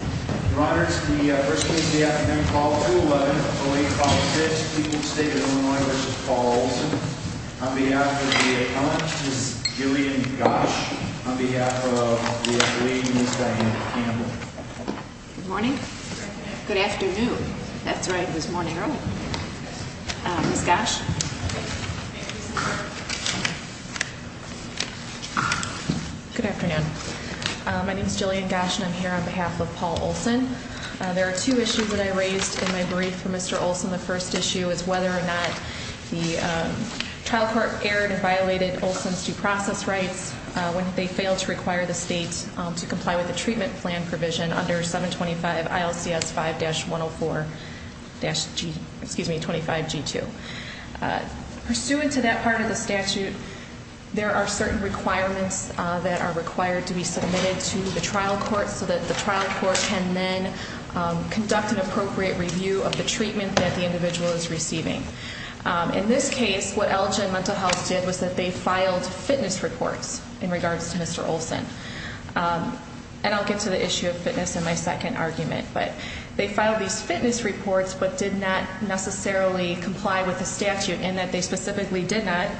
Your Honor, it's the first case of the afternoon, Paul 211, 08-056, Cleveland State v. Olsson. On behalf of the appellant, Ms. Jillian Gosch. On behalf of the attorney, Ms. Diane Campbell. Good morning. Good afternoon. That's right, it was morning earlier. Ms. Gosch. Good afternoon. My name is Jillian Gosch and I'm here on behalf of Paul Olsson. There are two issues that I raised in my brief for Mr. Olsson. The first issue is whether or not the trial court erred or violated Olsson's due process rights when they failed to require the state to comply with the treatment plan provision under 725 ILCS 5-104-25G2. Pursuant to that part of the statute, there are certain requirements that are required to be submitted to the trial court so that the trial court can then conduct an appropriate review of the treatment that the individual is receiving. In this case, what Elgin Mental Health did was that they filed fitness reports in regards to Mr. Olsson. And I'll get to the issue of fitness in my second argument, but they filed these fitness reports but did not necessarily comply with the statute in that they specifically did not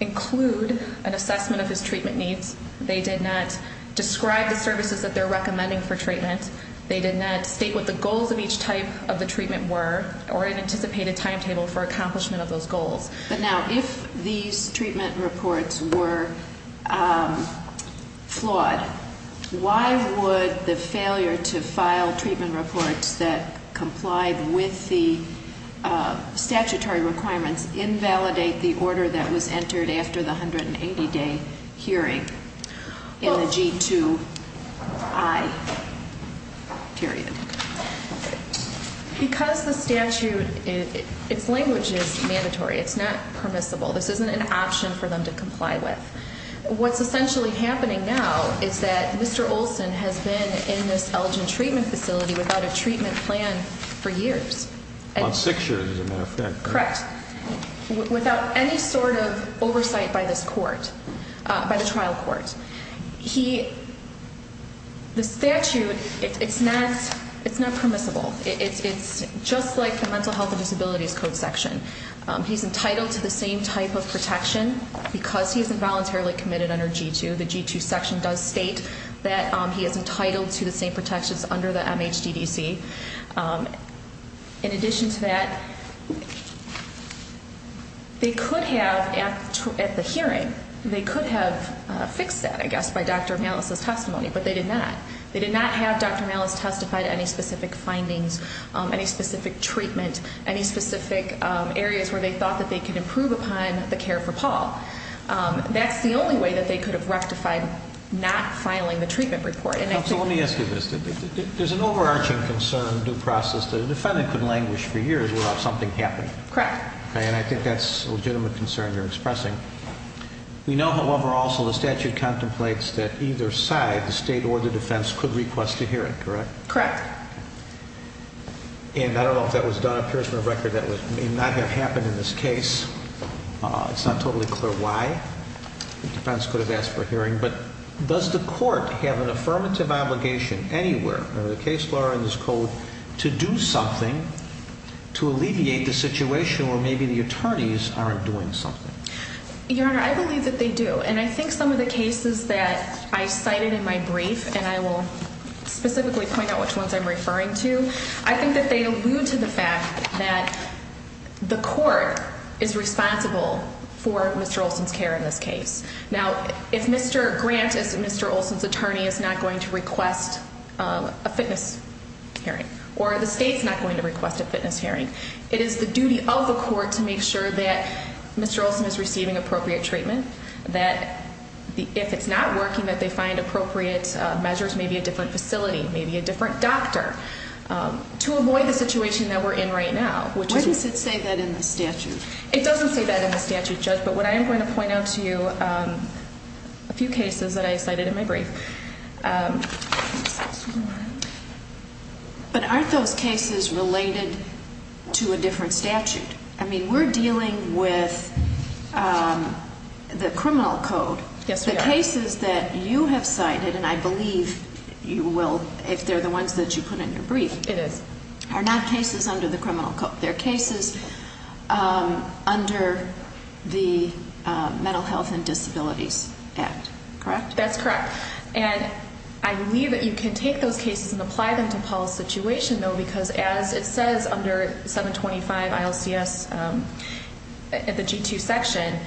include an assessment of his treatment needs. They did not describe the services that they're recommending for treatment. They did not state what the goals of each type of the treatment were or an anticipated timetable for accomplishment of those goals. But now, if these treatment reports were flawed, why would the failure to file treatment reports that complied with the statutory requirements invalidate the order that was entered after the 180-day hearing in the G2I period? Because the statute, its language is mandatory. It's not permissible. This isn't an option for them to comply with. What's essentially happening now is that Mr. Olsson has been in this Elgin treatment facility without a treatment plan for years. On six years, as a matter of fact. Correct. Without any sort of oversight by this court, by the trial court. The statute, it's not permissible. It's just like the Mental Health and Disabilities Code section. He's entitled to the same type of protection because he's involuntarily committed under G2. The G2 section does state that he is entitled to the same protections under the MHDDC. In addition to that, they could have, at the hearing, they could have fixed that, I guess, by Dr. Malis' testimony, but they did not. They did not have Dr. Malis testify to any specific findings, any specific treatment, any specific areas where they thought that they could improve upon the care for Paul. That's the only way that they could have rectified not filing the treatment report. Counsel, let me ask you this. There's an overarching concern, due process, that a defendant could languish for years without something happening. Correct. And I think that's a legitimate concern you're expressing. We know, however, also the statute contemplates that either side, the state or the defense, could request a hearing, correct? Correct. And I don't know if that was done. It appears from the record that it may not have happened in this case. It's not totally clear why the defense could have asked for a hearing. But does the court have an affirmative obligation anywhere, under the case law or in this code, to do something to alleviate the situation where maybe the attorneys aren't doing something? Your Honor, I believe that they do. And I think some of the cases that I cited in my brief, and I will specifically point out which ones I'm referring to, I think that they allude to the fact that the court is responsible for Mr. Olson's care in this case. Now, if Mr. Grant, Mr. Olson's attorney, is not going to request a fitness hearing, or the state's not going to request a fitness hearing, it is the duty of the court to make sure that Mr. Olson is receiving appropriate treatment, that if it's not working, that they find appropriate measures, maybe a different facility, maybe a different doctor, to avoid the situation that we're in right now. Why does it say that in the statute? It doesn't say that in the statute, Judge, but what I am going to point out to you, a few cases that I cited in my brief. But aren't those cases related to a different statute? I mean, we're dealing with the criminal code. Yes, we are. The cases that you have cited, and I believe you will, if they're the ones that you put in your brief. It is. Are not cases under the criminal code. They're cases under the Mental Health and Disabilities Act, correct? That's correct. And I believe that you can take those cases and apply them to Paul's situation, though, because as it says under 725 ILCS, at the G2 section,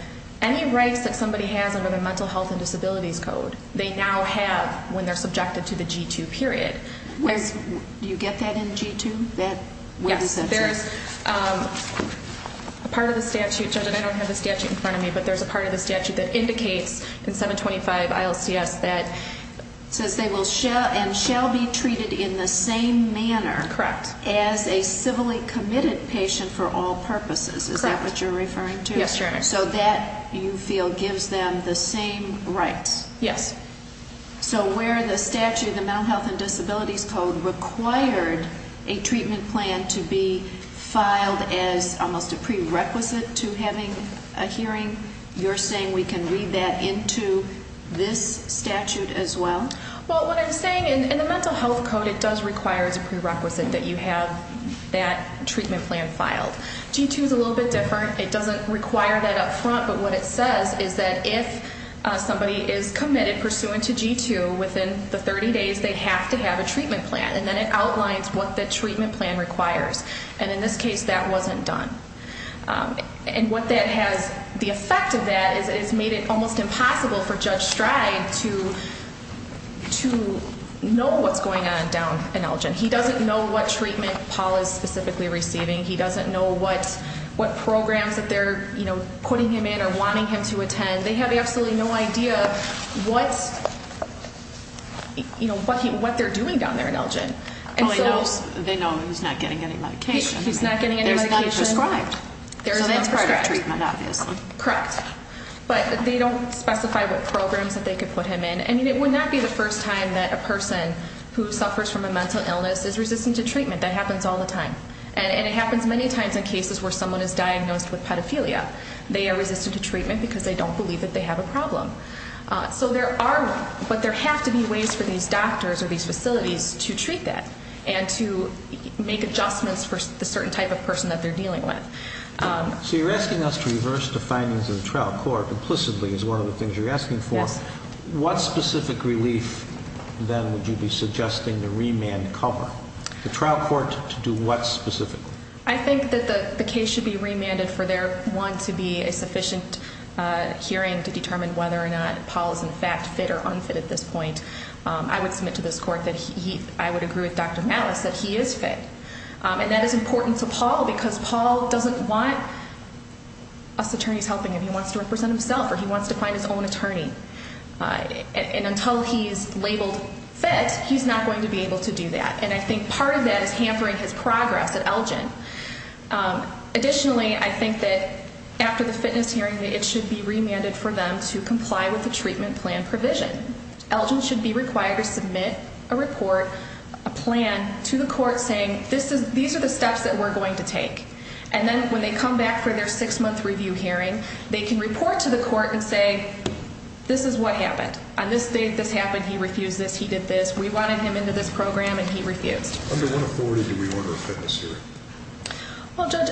any rights that somebody has under the Mental Health and Disabilities Code, they now have when they're subjected to the G2 period. Do you get that in G2? Yes. There's a part of the statute, Judge, and I don't have the statute in front of me, but there's a part of the statute that indicates in 725 ILCS that says they will and shall be treated in the same manner as a civilly committed patient for all purposes. Is that what you're referring to? Yes, Your Honor. So that, you feel, gives them the same rights? Yes. So where the statute, the Mental Health and Disabilities Code, required a treatment plan to be filed as almost a prerequisite to having a hearing, you're saying we can read that into this statute as well? Well, what I'm saying, in the Mental Health Code, it does require as a prerequisite that you have that treatment plan filed. G2's a little bit different. It doesn't require that up front, but what it says is that if somebody is committed pursuant to G2, within the 30 days, they have to have a treatment plan. And then it outlines what the treatment plan requires. And in this case, that wasn't done. And what that has, the effect of that is it has made it almost impossible for Judge Stride to know what's going on down in Elgin. They know he's not getting any medication. There's none prescribed. So that's part of treatment, obviously. Correct. But they don't specify what programs that they could put him in. And it would not be the first time that a person who suffers from a mental illness is resistant to treatment. That happens all the time. And it happens many times in cases where someone is diagnosed with pedophilia. They are resistant to treatment because they don't believe that they have a problem. So there are, but there have to be ways for these doctors or these facilities to treat that and to make adjustments for the certain type of person that they're dealing with. So you're asking us to reverse the findings of the trial court implicitly is one of the things you're asking for. What specific relief then would you be suggesting to remand cover? The trial court to do what specifically? I think that the case should be remanded for there, one, to be a sufficient hearing to determine whether or not Paul is in fact fit or unfit at this point. I would submit to this court that he, I would agree with Dr. Mattis that he is fit. And that is important to Paul because Paul doesn't want us attorneys helping him. He wants to represent himself or he wants to find his own attorney. And until he's labeled fit, he's not going to be able to do that. And I think part of that is hampering his progress at Elgin. Additionally, I think that after the fitness hearing, it should be remanded for them to comply with the treatment plan provision. Elgin should be required to submit a report, a plan to the court saying this is, these are the steps that we're going to take. And then when they come back for their six month review hearing, they can report to the court and say, this is what happened. On this day, this happened. He refused this. He did this. We wanted him into this program and he refused. Under what authority do we order a fitness hearing? Well, Judge,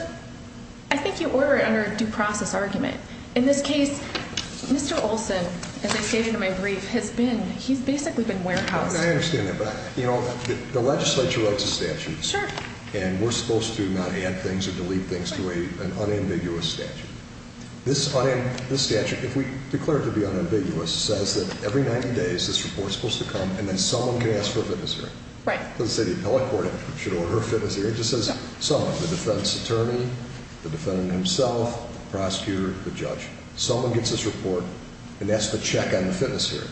I think you order it under a due process argument. In this case, Mr. Olson, as I stated in my brief, has been, he's basically been warehoused. I understand that. But, you know, the legislature writes the statutes and we're supposed to not add things or delete things to an unambiguous statute. This statute, if we declare it to be unambiguous, says that every 90 days this report is supposed to come and then someone can ask for a fitness hearing. It doesn't say the appellate court should order a fitness hearing. It just says someone, the defense attorney, the defendant himself, the prosecutor, the judge. Someone gets this report and asks to check on the fitness hearing.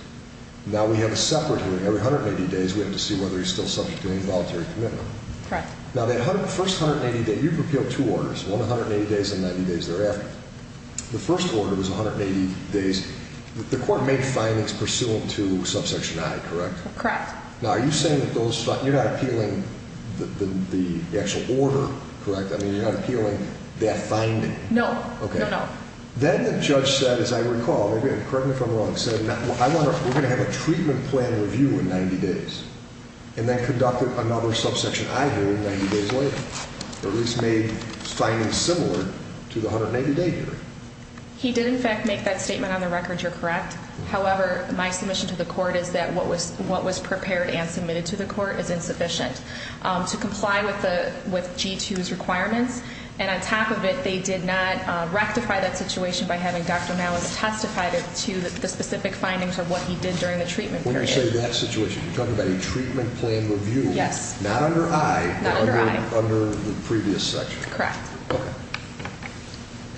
Now we have a separate hearing. Every 180 days we have to see whether he's still subject to any voluntary commitment. Correct. Now that first 180 days, you've repealed two orders, one 180 days and 90 days thereafter. The first order was 180 days. The court made findings pursuant to subsection I, correct? Correct. Now are you saying that those, you're not appealing the actual order, correct? I mean, you're not appealing that finding? No. No, no. Then the judge said, as I recall, correct me if I'm wrong, said we're going to have a treatment plan review in 90 days. And then conducted another subsection I here in 90 days later. Or at least made findings similar to the 180 day hearing. He did, in fact, make that statement on the record. You're correct. However, my submission to the court is that what was prepared and submitted to the court is insufficient to comply with G2's requirements. And on top of it, they did not rectify that situation by having Dr. Nowitz testify to the specific findings of what he did during the treatment period. When you say that situation, you're talking about a treatment plan review. Yes. Not under I. Not under I. Under the previous section. Correct.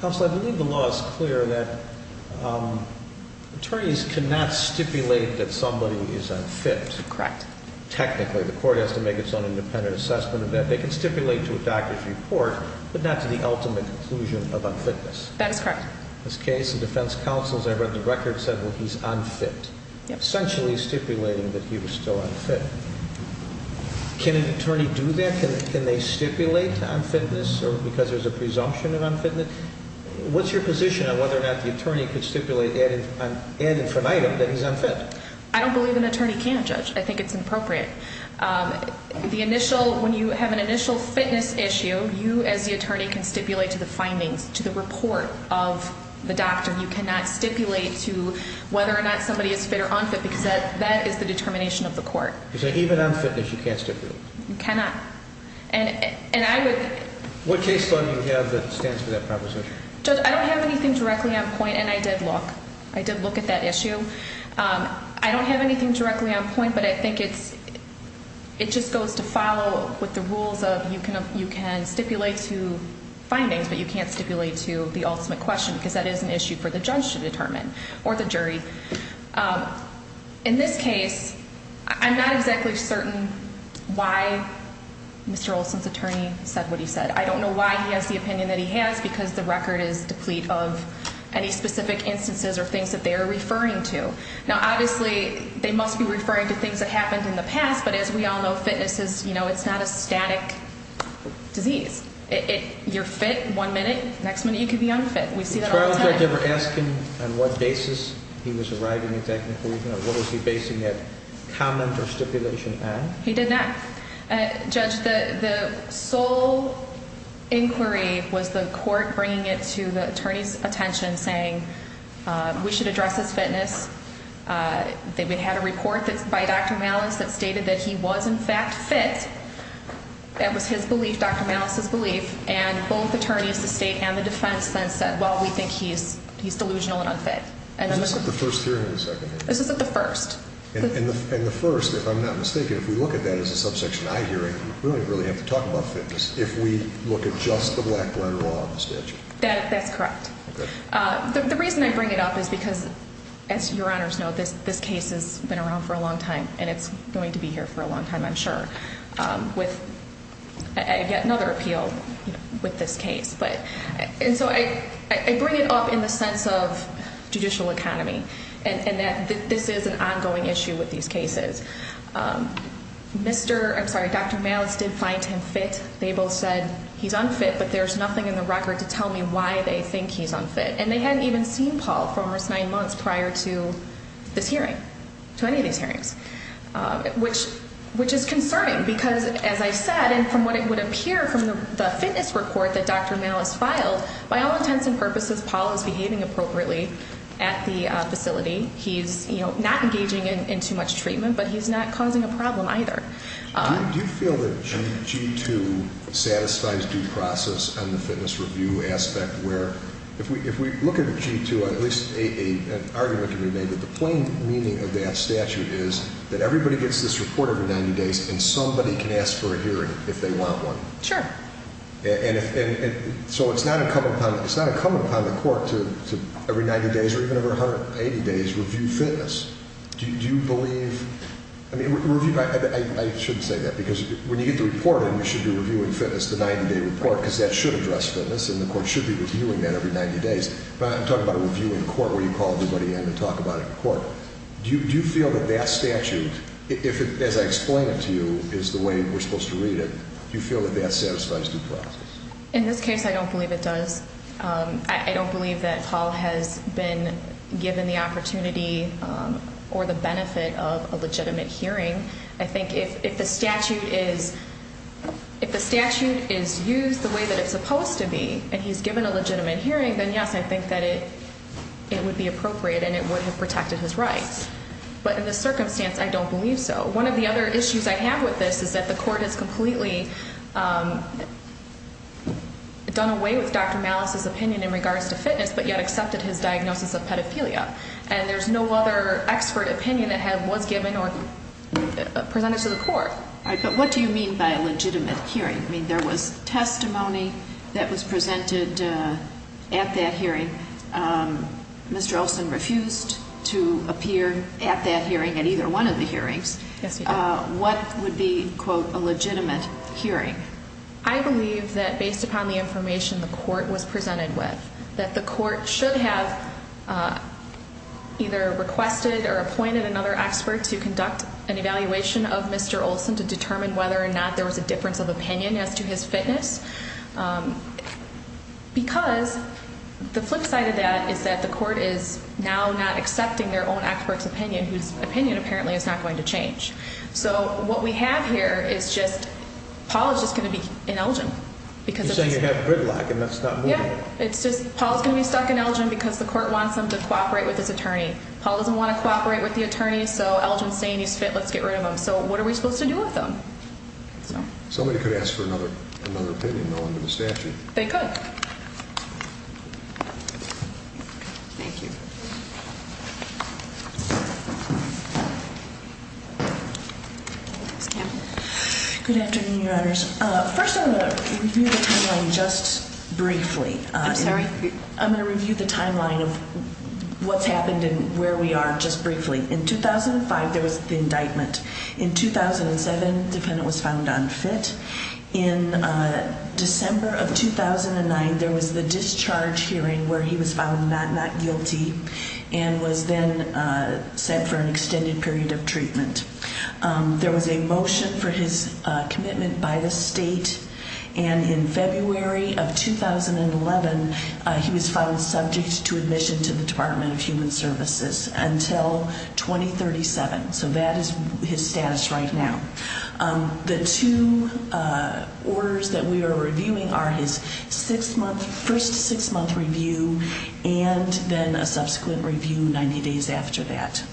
Counsel, I believe the law is clear that attorneys cannot stipulate that somebody is unfit. Correct. Technically. The court has to make its own independent assessment of that. They can stipulate to a doctor's report, but not to the ultimate conclusion of unfitness. That is correct. In this case, the defense counsel, as I read the record, said, well, he's unfit. Yep. Essentially stipulating that he was still unfit. Can an attorney do that? Can they stipulate unfitness because there's a presumption of unfitness? What's your position on whether or not the attorney could stipulate ad infinitum that he's unfit? I don't believe an attorney can, Judge. I think it's inappropriate. The initial, when you have an initial fitness issue, you as the attorney can stipulate to the findings, to the report of the doctor. You cannot stipulate to whether or not somebody is fit or unfit because that is the determination of the court. So even unfitness, you can't stipulate? You cannot. And I would... What case law do you have that stands for that proposition? Judge, I don't have anything directly on point, and I did look. I did look at that issue. I don't have anything directly on point, but I think it's, it just goes to follow with the rules of you can stipulate to findings, but you can't stipulate to the ultimate question because that is an issue for the judge to determine or the jury. In this case, I'm not exactly certain why Mr. Olson's attorney said what he said. I don't know why he has the opinion that he has because the record is deplete of any specific instances or things that they are referring to. Now, obviously, they must be referring to things that happened in the past, but as we all know, fitness is, you know, it's not a static disease. You're fit one minute, next minute you could be unfit. We see that all the time. Did the judge ever ask him on what basis he was arriving at that conclusion or what was he basing that comment or stipulation on? He did not. Judge, the sole inquiry was the court bringing it to the attorney's attention, saying we should address his fitness. They had a report by Dr. Malice that stated that he was in fact fit. That was his belief, Dr. Malice's belief, and both attorneys, the state and the defense then said, well, we think he's delusional and unfit. Is this at the first hearing or the second hearing? This is at the first. And the first, if I'm not mistaken, if we look at that as a subsection I hearing, we don't really have to talk about fitness if we look at just the black letter law of the statute. That's correct. The reason I bring it up is because, as your honors know, this case has been around for a long time and it's going to be here for a long time, I'm sure, with yet another appeal with this case. And so I bring it up in the sense of judicial economy and that this is an ongoing issue with these cases. Mr. I'm sorry, Dr. Malice did find him fit. They both said he's unfit, but there's nothing in the record to tell me why they think he's unfit. And they hadn't even seen Paul for almost nine months prior to this hearing, to any of these hearings, which which is concerning because, as I said, and from what it would appear from the fitness report that Dr. Malice filed, by all intents and purposes, Paul is behaving appropriately at the facility. He's not engaging in too much treatment, but he's not causing a problem either. Do you feel that G2 satisfies due process on the fitness review aspect, where if we look at G2, at least an argument can be made that the plain meaning of that statute is that everybody gets this report every 90 days and somebody can ask for a hearing if they want one? Sure. And so it's not incumbent upon the court to every 90 days or even over 180 days review fitness. Do you believe, I mean, I shouldn't say that because when you get the report in, you should be reviewing fitness, the 90 day report, because that should address fitness and the court should be reviewing that every 90 days. But I'm talking about a review in court where you call everybody in and talk about it in court. Do you feel that that statute, if it, as I explain it to you, is the way we're supposed to read it, do you feel that that satisfies due process? In this case, I don't believe it does. I don't believe that Paul has been given the opportunity or the benefit of a legitimate hearing. I think if the statute is used the way that it's supposed to be and he's given a legitimate hearing, then yes, I think that it would be appropriate and it would have protected his rights. But in this circumstance, I don't believe so. One of the other issues I have with this is that the court has completely done away with Dr. Malice's opinion in regards to fitness but yet accepted his diagnosis of pedophilia. And there's no other expert opinion that was given or presented to the court. All right, but what do you mean by a legitimate hearing? I mean, there was testimony that was presented at that hearing. Mr. Olson refused to appear at that hearing at either one of the hearings. Yes, he did. What would be, quote, a legitimate hearing? I believe that based upon the information the court was presented with, that the court should have either requested or appointed another expert to conduct an evaluation of Mr. Olson to determine whether or not there was a difference of opinion as to his fitness. Because the flip side of that is that the court is now not accepting their own expert's opinion, whose opinion apparently is not going to change. So what we have here is just, Paul is just going to be in Elgin. You're saying you have gridlock and that's not moving. Yeah, it's just Paul is going to be stuck in Elgin because the court wants him to cooperate with his attorney. Paul doesn't want to cooperate with the attorney, so Elgin is saying he's fit, let's get rid of him. So what are we supposed to do with him? Somebody could ask for another opinion, though, under the statute. They could. Thank you. Good afternoon, Your Honors. First, I'm going to review the timeline just briefly. I'm sorry? I'm going to review the timeline of what's happened and where we are just briefly. In 2005, there was the indictment. In 2007, the defendant was found unfit. In December of 2009, there was the discharge hearing where he was found not guilty and was then set for an extended period of treatment. There was a motion for his commitment by the state, and in February of 2011, he was found subject to admission to the Department of Human Services until 2037. So that is his status right now. The two orders that we are reviewing are his first six-month review and then a subsequent review 90 days after that.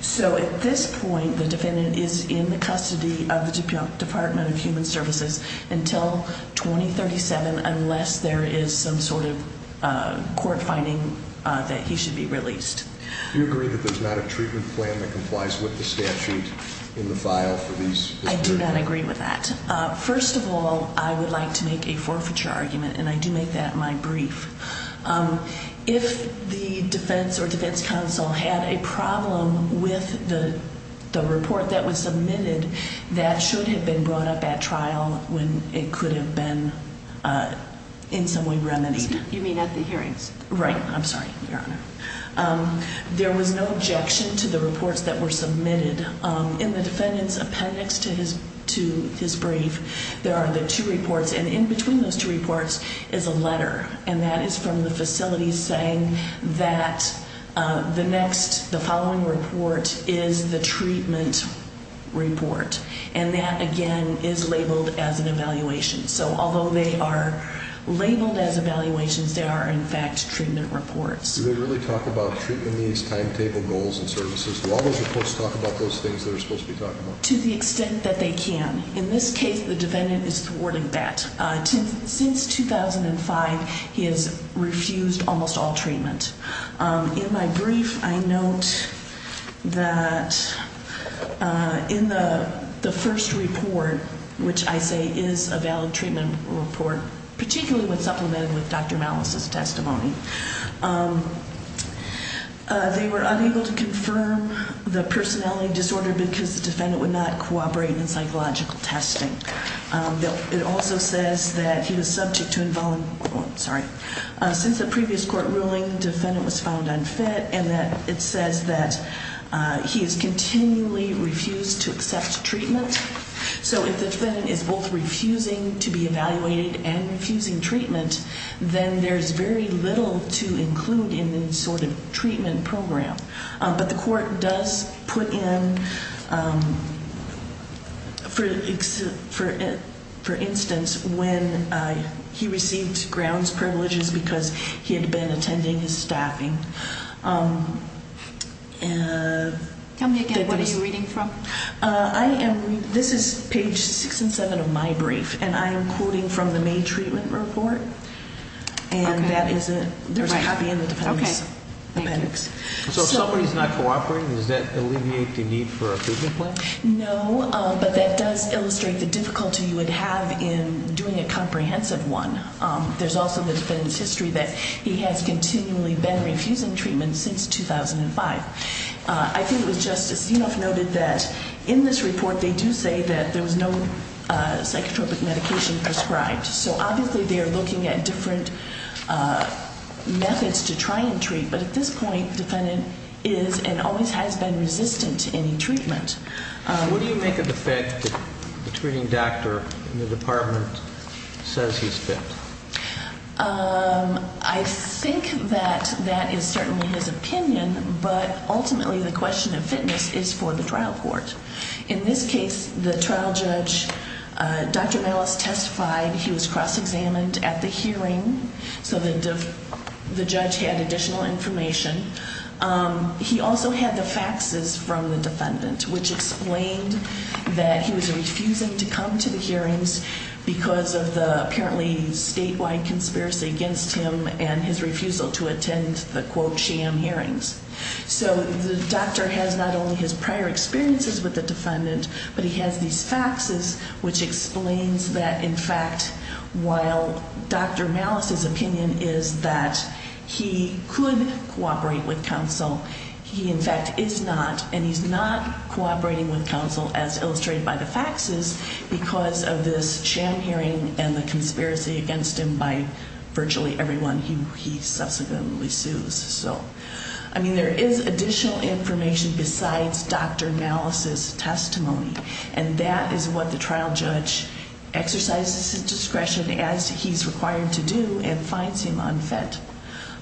So at this point, the defendant is in the custody of the Department of Human Services until 2037 unless there is some sort of court finding that he should be released. Do you agree that there's not a treatment plan that complies with the statute in the file for these? I do not agree with that. First of all, I would like to make a forfeiture argument, and I do make that my brief. If the defense or defense counsel had a problem with the report that was submitted, that should have been brought up at trial when it could have been in some way remedied. You mean at the hearings? Right. I'm sorry, Your Honor. There was no objection to the reports that were submitted. In the defendant's appendix to his brief, there are the two reports, and in between those two reports is a letter, and that is from the facility saying that the following report is the treatment report. And that, again, is labeled as an evaluation. So although they are labeled as evaluations, they are, in fact, treatment reports. Do they really talk about treatment needs, timetable, goals, and services? Do all those reports talk about those things that are supposed to be talked about? To the extent that they can. In this case, the defendant is thwarting that. Since 2005, he has refused almost all treatment. In my brief, I note that in the first report, which I say is a valid treatment report, particularly when supplemented with Dr. Malice's testimony, they were unable to confirm the personality disorder because the defendant would not cooperate in psychological testing. It also says that he was subject to involuntary, oh, sorry. Since the previous court ruling, the defendant was found unfit, and that it says that he has continually refused to accept treatment. So if the defendant is both refusing to be evaluated and refusing treatment, then there's very little to include in the sort of treatment program. But the court does put in, for instance, when he received grounds privileges because he had been attending his staffing. Tell me again, what are you reading from? This is page six and seven of my brief, and I am quoting from the May treatment report. And that is a copy in the defendant's appendix. So if somebody's not cooperating, does that alleviate the need for a treatment plan? No, but that does illustrate the difficulty you would have in doing a comprehensive one. There's also the defendant's history that he has continually been refusing treatment since 2005. I think it was Justice Zinoff noted that in this report, they do say that there was no psychotropic medication prescribed. So obviously they are looking at different methods to try and treat. But at this point, the defendant is and always has been resistant to any treatment. What do you make of the fact that the treating doctor in the department says he's fit? I think that that is certainly his opinion, but ultimately the question of fitness is for the trial court. In this case, the trial judge, Dr. Mallis, testified he was cross-examined at the hearing, so the judge had additional information. He also had the faxes from the defendant, which explained that he was refusing to come to the hearings because of the apparently statewide conspiracy against him and his refusal to attend the, quote, sham hearings. So the doctor has not only his prior experiences with the defendant, but he has these faxes, which explains that, in fact, while Dr. Mallis's opinion is that he could cooperate with counsel, he in fact is not, and he's not cooperating with counsel as illustrated by the faxes because of this sham hearing and the conspiracy against him by virtually everyone he subsequently sues. So, I mean, there is additional information besides Dr. Mallis's testimony, and that is what the trial judge exercises his discretion as he's required to do and finds him unfit.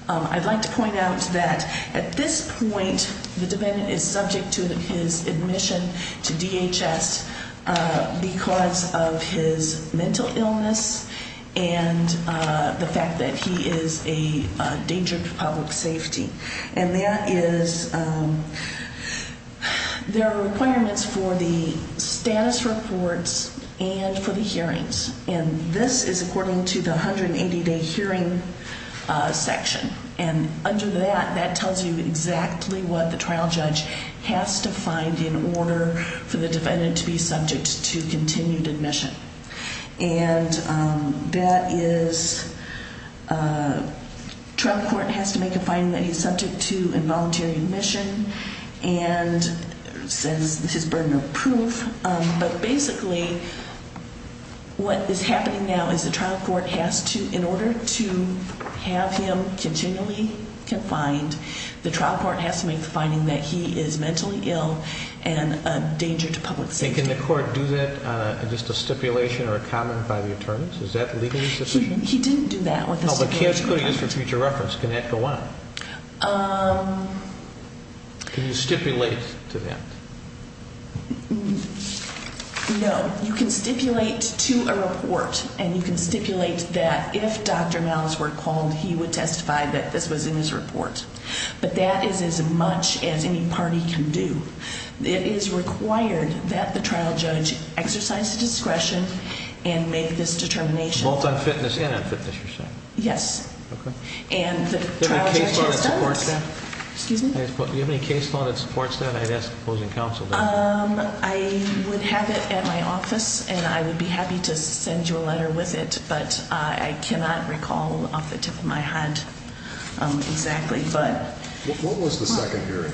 I'd like to point out that at this point the defendant is subject to his admission to DHS because of his mental illness and the fact that he is a danger to public safety. And that is there are requirements for the status reports and for the hearings, and this is according to the 180-day hearing section. And under that, that tells you exactly what the trial judge has to find in order for the defendant to be subject to continued admission. And that is trial court has to make a finding that he's subject to involuntary admission and says this is burden of proof. But basically what is happening now is the trial court has to, in order to have him continually confined, the trial court has to make the finding that he is mentally ill and a danger to public safety. And can the court do that in just a stipulation or a comment by the attorneys? Is that legally sufficient? He didn't do that with the stipulation. Oh, but can it be used for future reference? Can that go on? Can you stipulate to that? No. You can stipulate to a report, and you can stipulate that if Dr. Mallis were called, he would testify that this was in his report. But that is as much as any party can do. It is required that the trial judge exercise discretion and make this determination. Both on fitness and on fitness, you're saying? Yes. Okay. And the trial judge has done this. Do you have any case law that supports that? Excuse me? Do you have any case law that supports that? I'd ask opposing counsel. I would have it at my office, and I would be happy to send you a letter with it. But I cannot recall off the tip of my head exactly. What was the second hearing?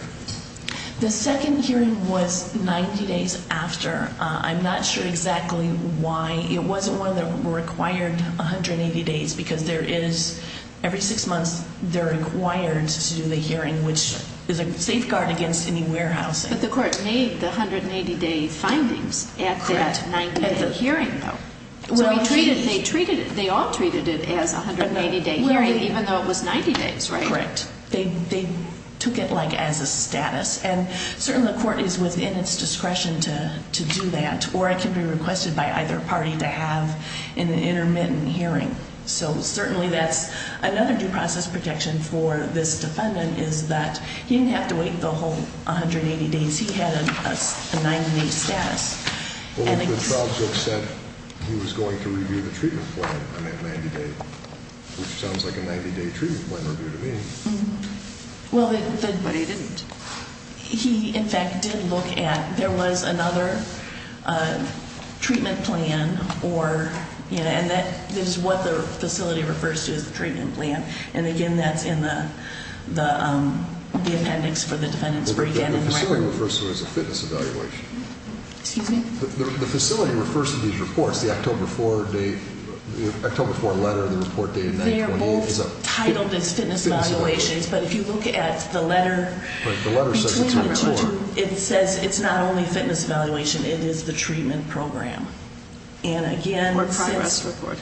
The second hearing was 90 days after. I'm not sure exactly why. It wasn't one that required 180 days because there is, every six months, they're required to do the hearing, which is a safeguard against any warehousing. But the court made the 180-day findings at that 90-day hearing, though. So they all treated it as a 180-day hearing, even though it was 90 days, right? Correct. They took it, like, as a status. And certainly the court is within its discretion to do that, or it can be requested by either party to have an intermittent hearing. So certainly that's another due process protection for this defendant is that he didn't have to wait the whole 180 days. He had a 90-day status. Well, the trial judge said he was going to review the treatment plan on that 90-day, which sounds like a 90-day treatment plan review to me. But he didn't. He, in fact, did look at, there was another treatment plan, and that is what the facility refers to as the treatment plan. And, again, that's in the appendix for the defendant's brief. The facility refers to it as a fitness evaluation. Excuse me? The facility refers to these reports, the October 4 letter, the report dated 9-28. They are both titled as fitness evaluations, but if you look at the letter between the two, it says it's not only fitness evaluation, it is the treatment program. And, again, since the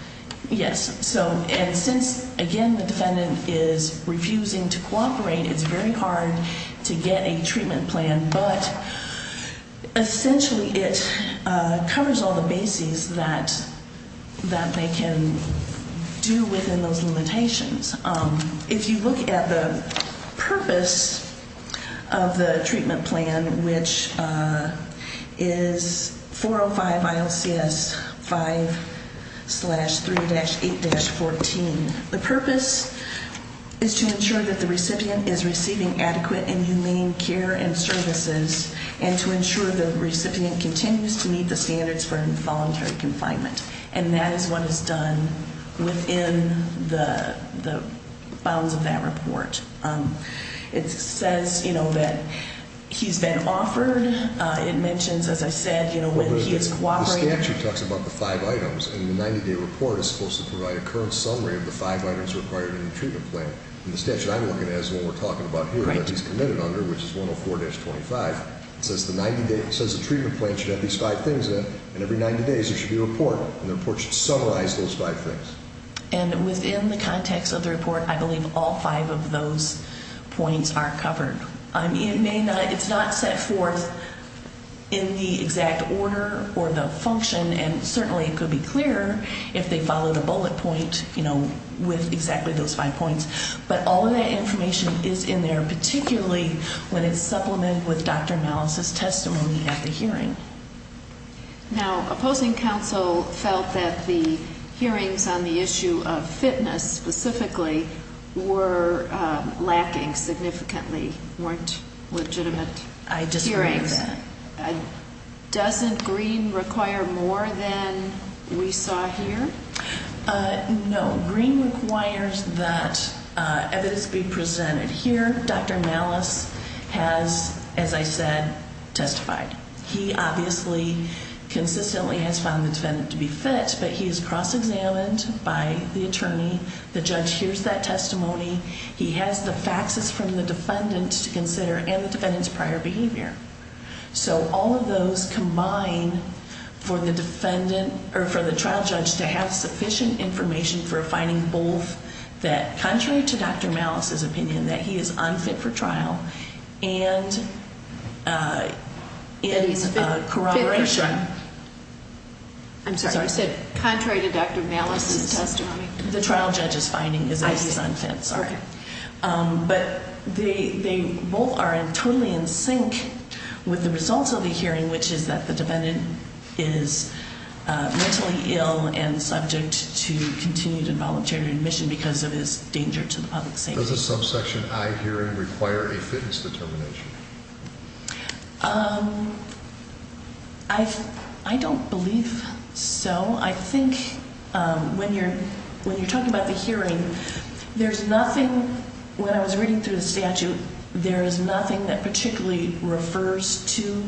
defendant is refusing to cooperate, it's very hard to get a treatment plan. But, essentially, it covers all the bases that they can do within those limitations. If you look at the purpose of the treatment plan, which is 405 ILCS 5-3-8-14, the purpose is to ensure that the recipient is receiving adequate and humane care and services and to ensure the recipient continues to meet the standards for involuntary confinement. And that is what is done within the bounds of that report. It says that he's been offered. It mentions, as I said, when he is cooperating. The statute talks about the five items, and the 90-day report is supposed to provide a current summary of the five items required in the treatment plan. And the statute I'm looking at is the one we're talking about here that he's committed under, which is 104-25. It says the treatment plan should have these five things in it, and every 90 days there should be a report, and the report should summarize those five things. And within the context of the report, I believe all five of those points are covered. It's not set forth in the exact order or the function, and certainly it could be clearer if they follow the bullet point with exactly those five points. But all of that information is in there, particularly when it's supplemented with Dr. Malis' testimony at the hearing. Now, opposing counsel felt that the hearings on the issue of fitness specifically were lacking significantly, weren't legitimate hearings. I disagree with that. Doesn't Green require more than we saw here? No. Green requires that evidence be presented. Here, Dr. Malis has, as I said, testified. He obviously consistently has found the defendant to be fit, but he is cross-examined by the attorney. The judge hears that testimony. He has the faxes from the defendant to consider and the defendant's prior behavior. So all of those combine for the trial judge to have sufficient information for finding both that, contrary to Dr. Malis' opinion, that he is unfit for trial, and in corroboration. I'm sorry, you said contrary to Dr. Malis' testimony? The trial judge's finding is that he's unfit, sorry. But they both are totally in sync with the results of the hearing, which is that the defendant is mentally ill and subject to continued involuntary admission because of his danger to the public safety. Does a subsection I hearing require a fitness determination? I don't believe so. I think when you're talking about the hearing, there's nothing, when I was reading through the statute, there is nothing that particularly refers to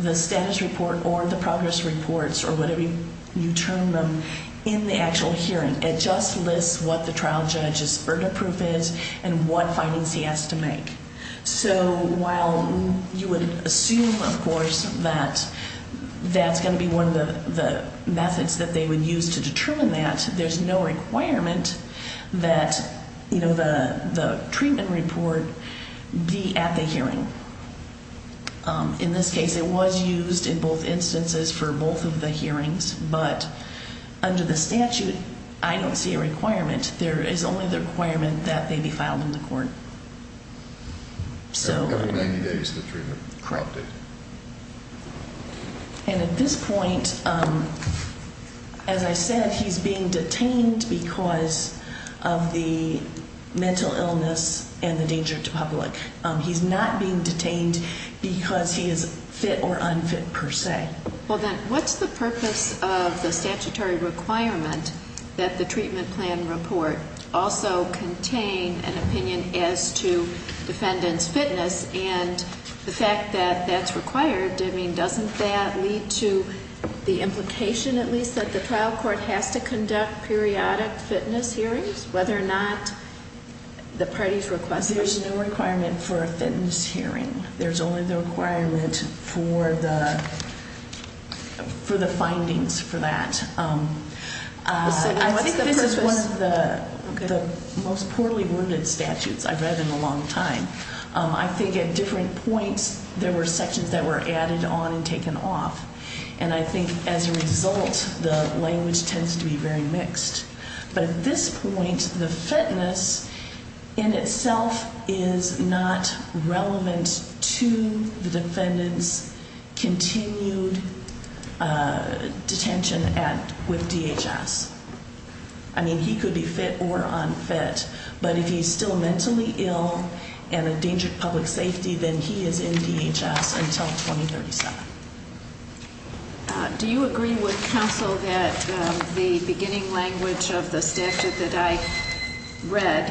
the status report or the progress reports or whatever you term them in the actual hearing. It just lists what the trial judge's verdict proof is and what findings he has to make. So while you would assume, of course, that that's going to be one of the methods that they would use to determine that, there's no requirement that the treatment report be at the hearing. In this case, it was used in both instances for both of the hearings, but under the statute, I don't see a requirement. There is only the requirement that they be filed in the court. So every 90 days, the treatment is corrupted. And at this point, as I said, he's being detained because of the mental illness and the danger to public. He's not being detained because he is fit or unfit per se. Well, then what's the purpose of the statutory requirement that the treatment plan report also contain an opinion as to defendant's fitness and the fact that that's required? I mean, doesn't that lead to the implication, at least, that the trial court has to conduct periodic fitness hearings, whether or not the parties request it? There's no requirement for a fitness hearing. There's only the requirement for the findings for that. I think this is one of the most poorly worded statutes I've read in a long time. I think at different points, there were sections that were added on and taken off. And I think as a result, the language tends to be very mixed. But at this point, the fitness in itself is not relevant to the defendant's continued detention with DHS. I mean, he could be fit or unfit, but if he's still mentally ill and a danger to public safety, then he is in DHS until 2037. Do you agree with counsel that the beginning language of the statute that I read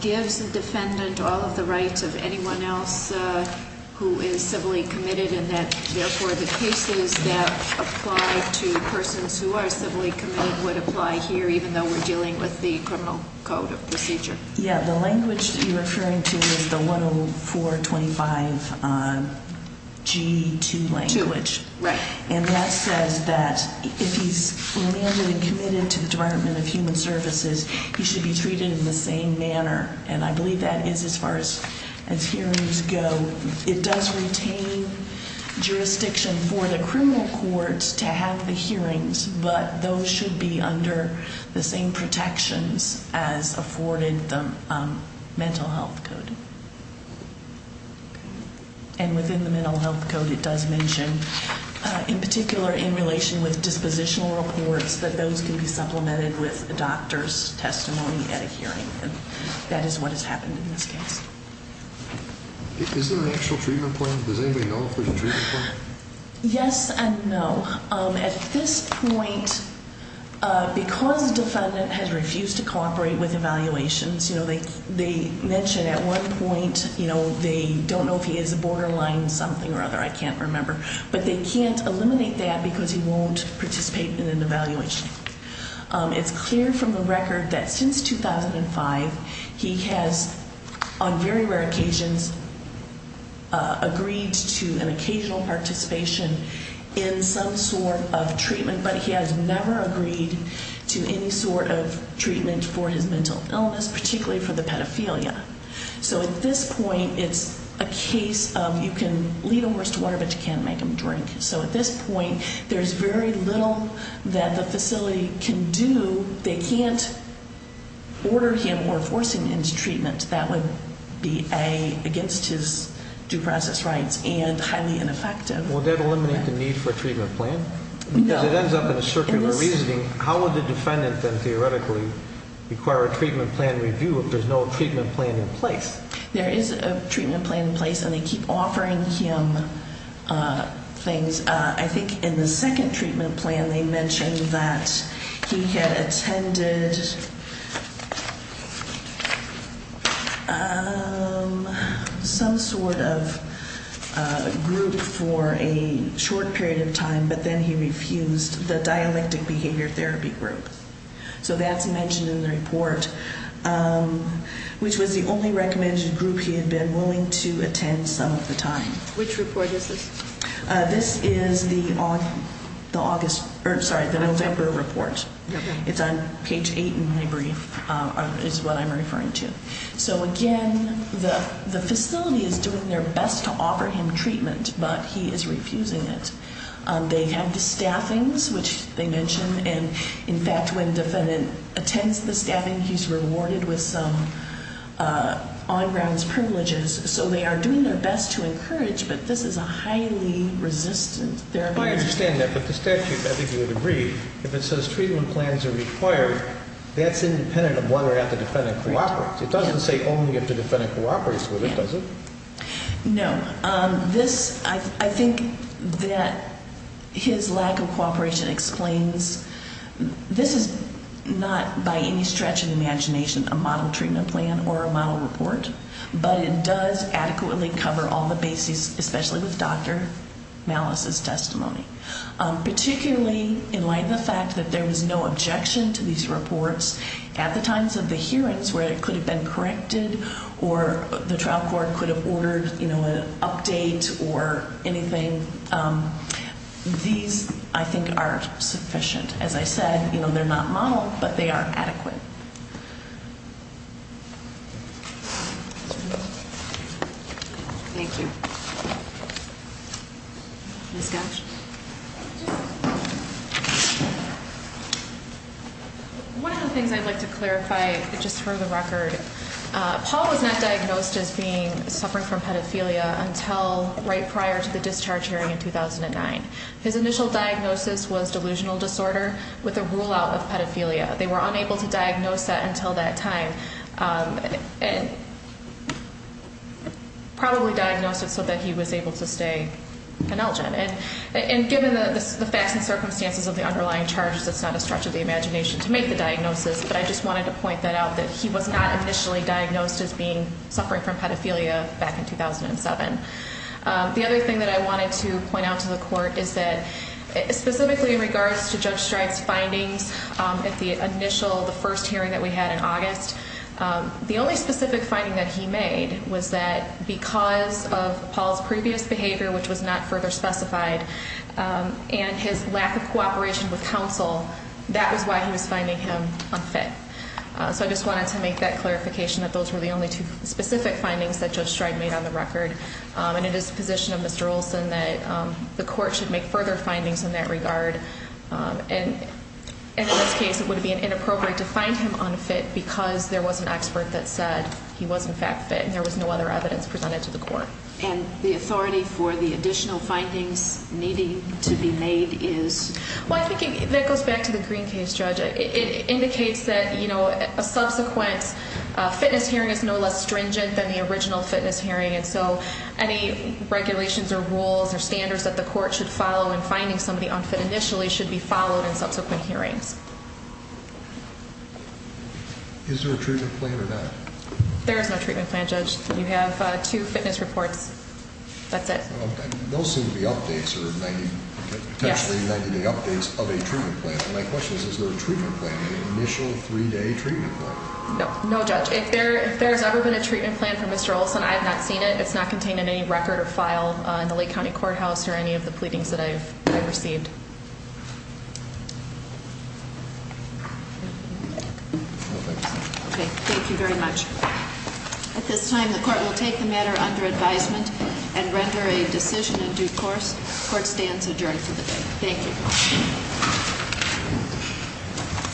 gives the defendant all of the rights of anyone else who is civilly committed and that, therefore, the cases that apply to persons who are civilly committed would apply here, even though we're dealing with the criminal code of procedure? Yeah, the language that you're referring to is the 10425G2 language. And that says that if he's remanded and committed to the Department of Human Services, he should be treated in the same manner. And I believe that is as far as hearings go. It does retain jurisdiction for the criminal courts to have the hearings, but those should be under the same protections as afforded the mental health code. And within the mental health code, it does mention, in particular in relation with dispositional reports, that those can be supplemented with a doctor's testimony at a hearing. And that is what has happened in this case. Is there an actual treatment plan? Does anybody know if there's a treatment plan? Yes and no. At this point, because the defendant has refused to cooperate with evaluations, they mention at one point they don't know if he is a borderline something or other, I can't remember, but they can't eliminate that because he won't participate in an evaluation. It's clear from the record that since 2005, he has, on very rare occasions, agreed to an occasional participation in some sort of treatment, but he has never agreed to any sort of treatment for his mental illness, particularly for the pedophilia. So at this point, it's a case of you can lead a horse to water, but you can't make him drink. So at this point, there's very little that the facility can do. They can't order him or force him into treatment. That would be, A, against his due process rights and highly ineffective. Would that eliminate the need for a treatment plan? No. Because it ends up in a circular reasoning. How would the defendant then theoretically require a treatment plan review if there's no treatment plan in place? There is a treatment plan in place, and they keep offering him things. And I think in the second treatment plan, they mentioned that he had attended some sort of group for a short period of time, but then he refused the dialectic behavior therapy group. So that's mentioned in the report, which was the only recommended group he had been willing to attend some of the time. Which report is this? This is the November report. It's on page 8 in my brief, is what I'm referring to. So, again, the facility is doing their best to offer him treatment, but he is refusing it. They had the staffings, which they mentioned. And, in fact, when the defendant attends the staffing, he's rewarded with some on grounds privileges. So they are doing their best to encourage, but this is a highly resistant therapy. I understand that. But the statute, I think you would agree, if it says treatment plans are required, that's independent of whether or not the defendant cooperates. It doesn't say only if the defendant cooperates with it, does it? No. This, I think that his lack of cooperation explains, this is not by any stretch of the imagination a model treatment plan or a model report, but it does adequately cover all the bases, especially with Dr. Malice's testimony, particularly in light of the fact that there was no objection to these reports at the times of the hearings where it could have been corrected or the trial court could have ordered an update or anything. These, I think, are sufficient. As I said, they're not modeled, but they are adequate. Thank you. Ms. Gosch? One of the things I'd like to clarify, just for the record, Paul was not diagnosed as being suffering from pedophilia until right prior to the discharge hearing in 2009. His initial diagnosis was delusional disorder with a rule out of pedophilia. They were unable to diagnose that until that time and probably diagnosed it so that he was able to stay penelgent. And given the facts and circumstances of the underlying charges, it's not a stretch of the imagination to make the diagnosis, but I just wanted to point that out, that he was not initially diagnosed as being suffering from pedophilia back in 2007. The other thing that I wanted to point out to the court is that, specifically in regards to Judge Streich's findings at the initial, the first hearing that we had in August, the only specific finding that he made was that because of Paul's previous behavior, which was not further specified, and his lack of cooperation with counsel, that was why he was finding him unfit. So I just wanted to make that clarification, that those were the only two specific findings that Judge Streich made on the record. And it is the position of Mr. Olson that the court should make further findings in that regard. And in this case, it would be inappropriate to find him unfit because there was an expert that said he was, in fact, fit, and there was no other evidence presented to the court. And the authority for the additional findings needing to be made is? Well, I think that goes back to the Green case, Judge. It indicates that a subsequent fitness hearing is no less stringent than the original fitness hearing, and so any regulations or rules or standards that the court should follow in finding somebody unfit initially should be followed in subsequent hearings. Is there a treatment plan or not? There is no treatment plan, Judge. You have two fitness reports. That's it. Okay. Those seem to be updates or 90, potentially 90-day updates of a treatment plan. My question is, is there a treatment plan, an initial three-day treatment plan? No, no, Judge. If there has ever been a treatment plan for Mr. Olson, I have not seen it. It's not contained in any record or file in the Lake County Courthouse or any of the pleadings that I've received. Okay. Thank you very much. At this time, the court will take the matter under advisement and render a decision in due course. Court stands adjourned for the day. Thank you.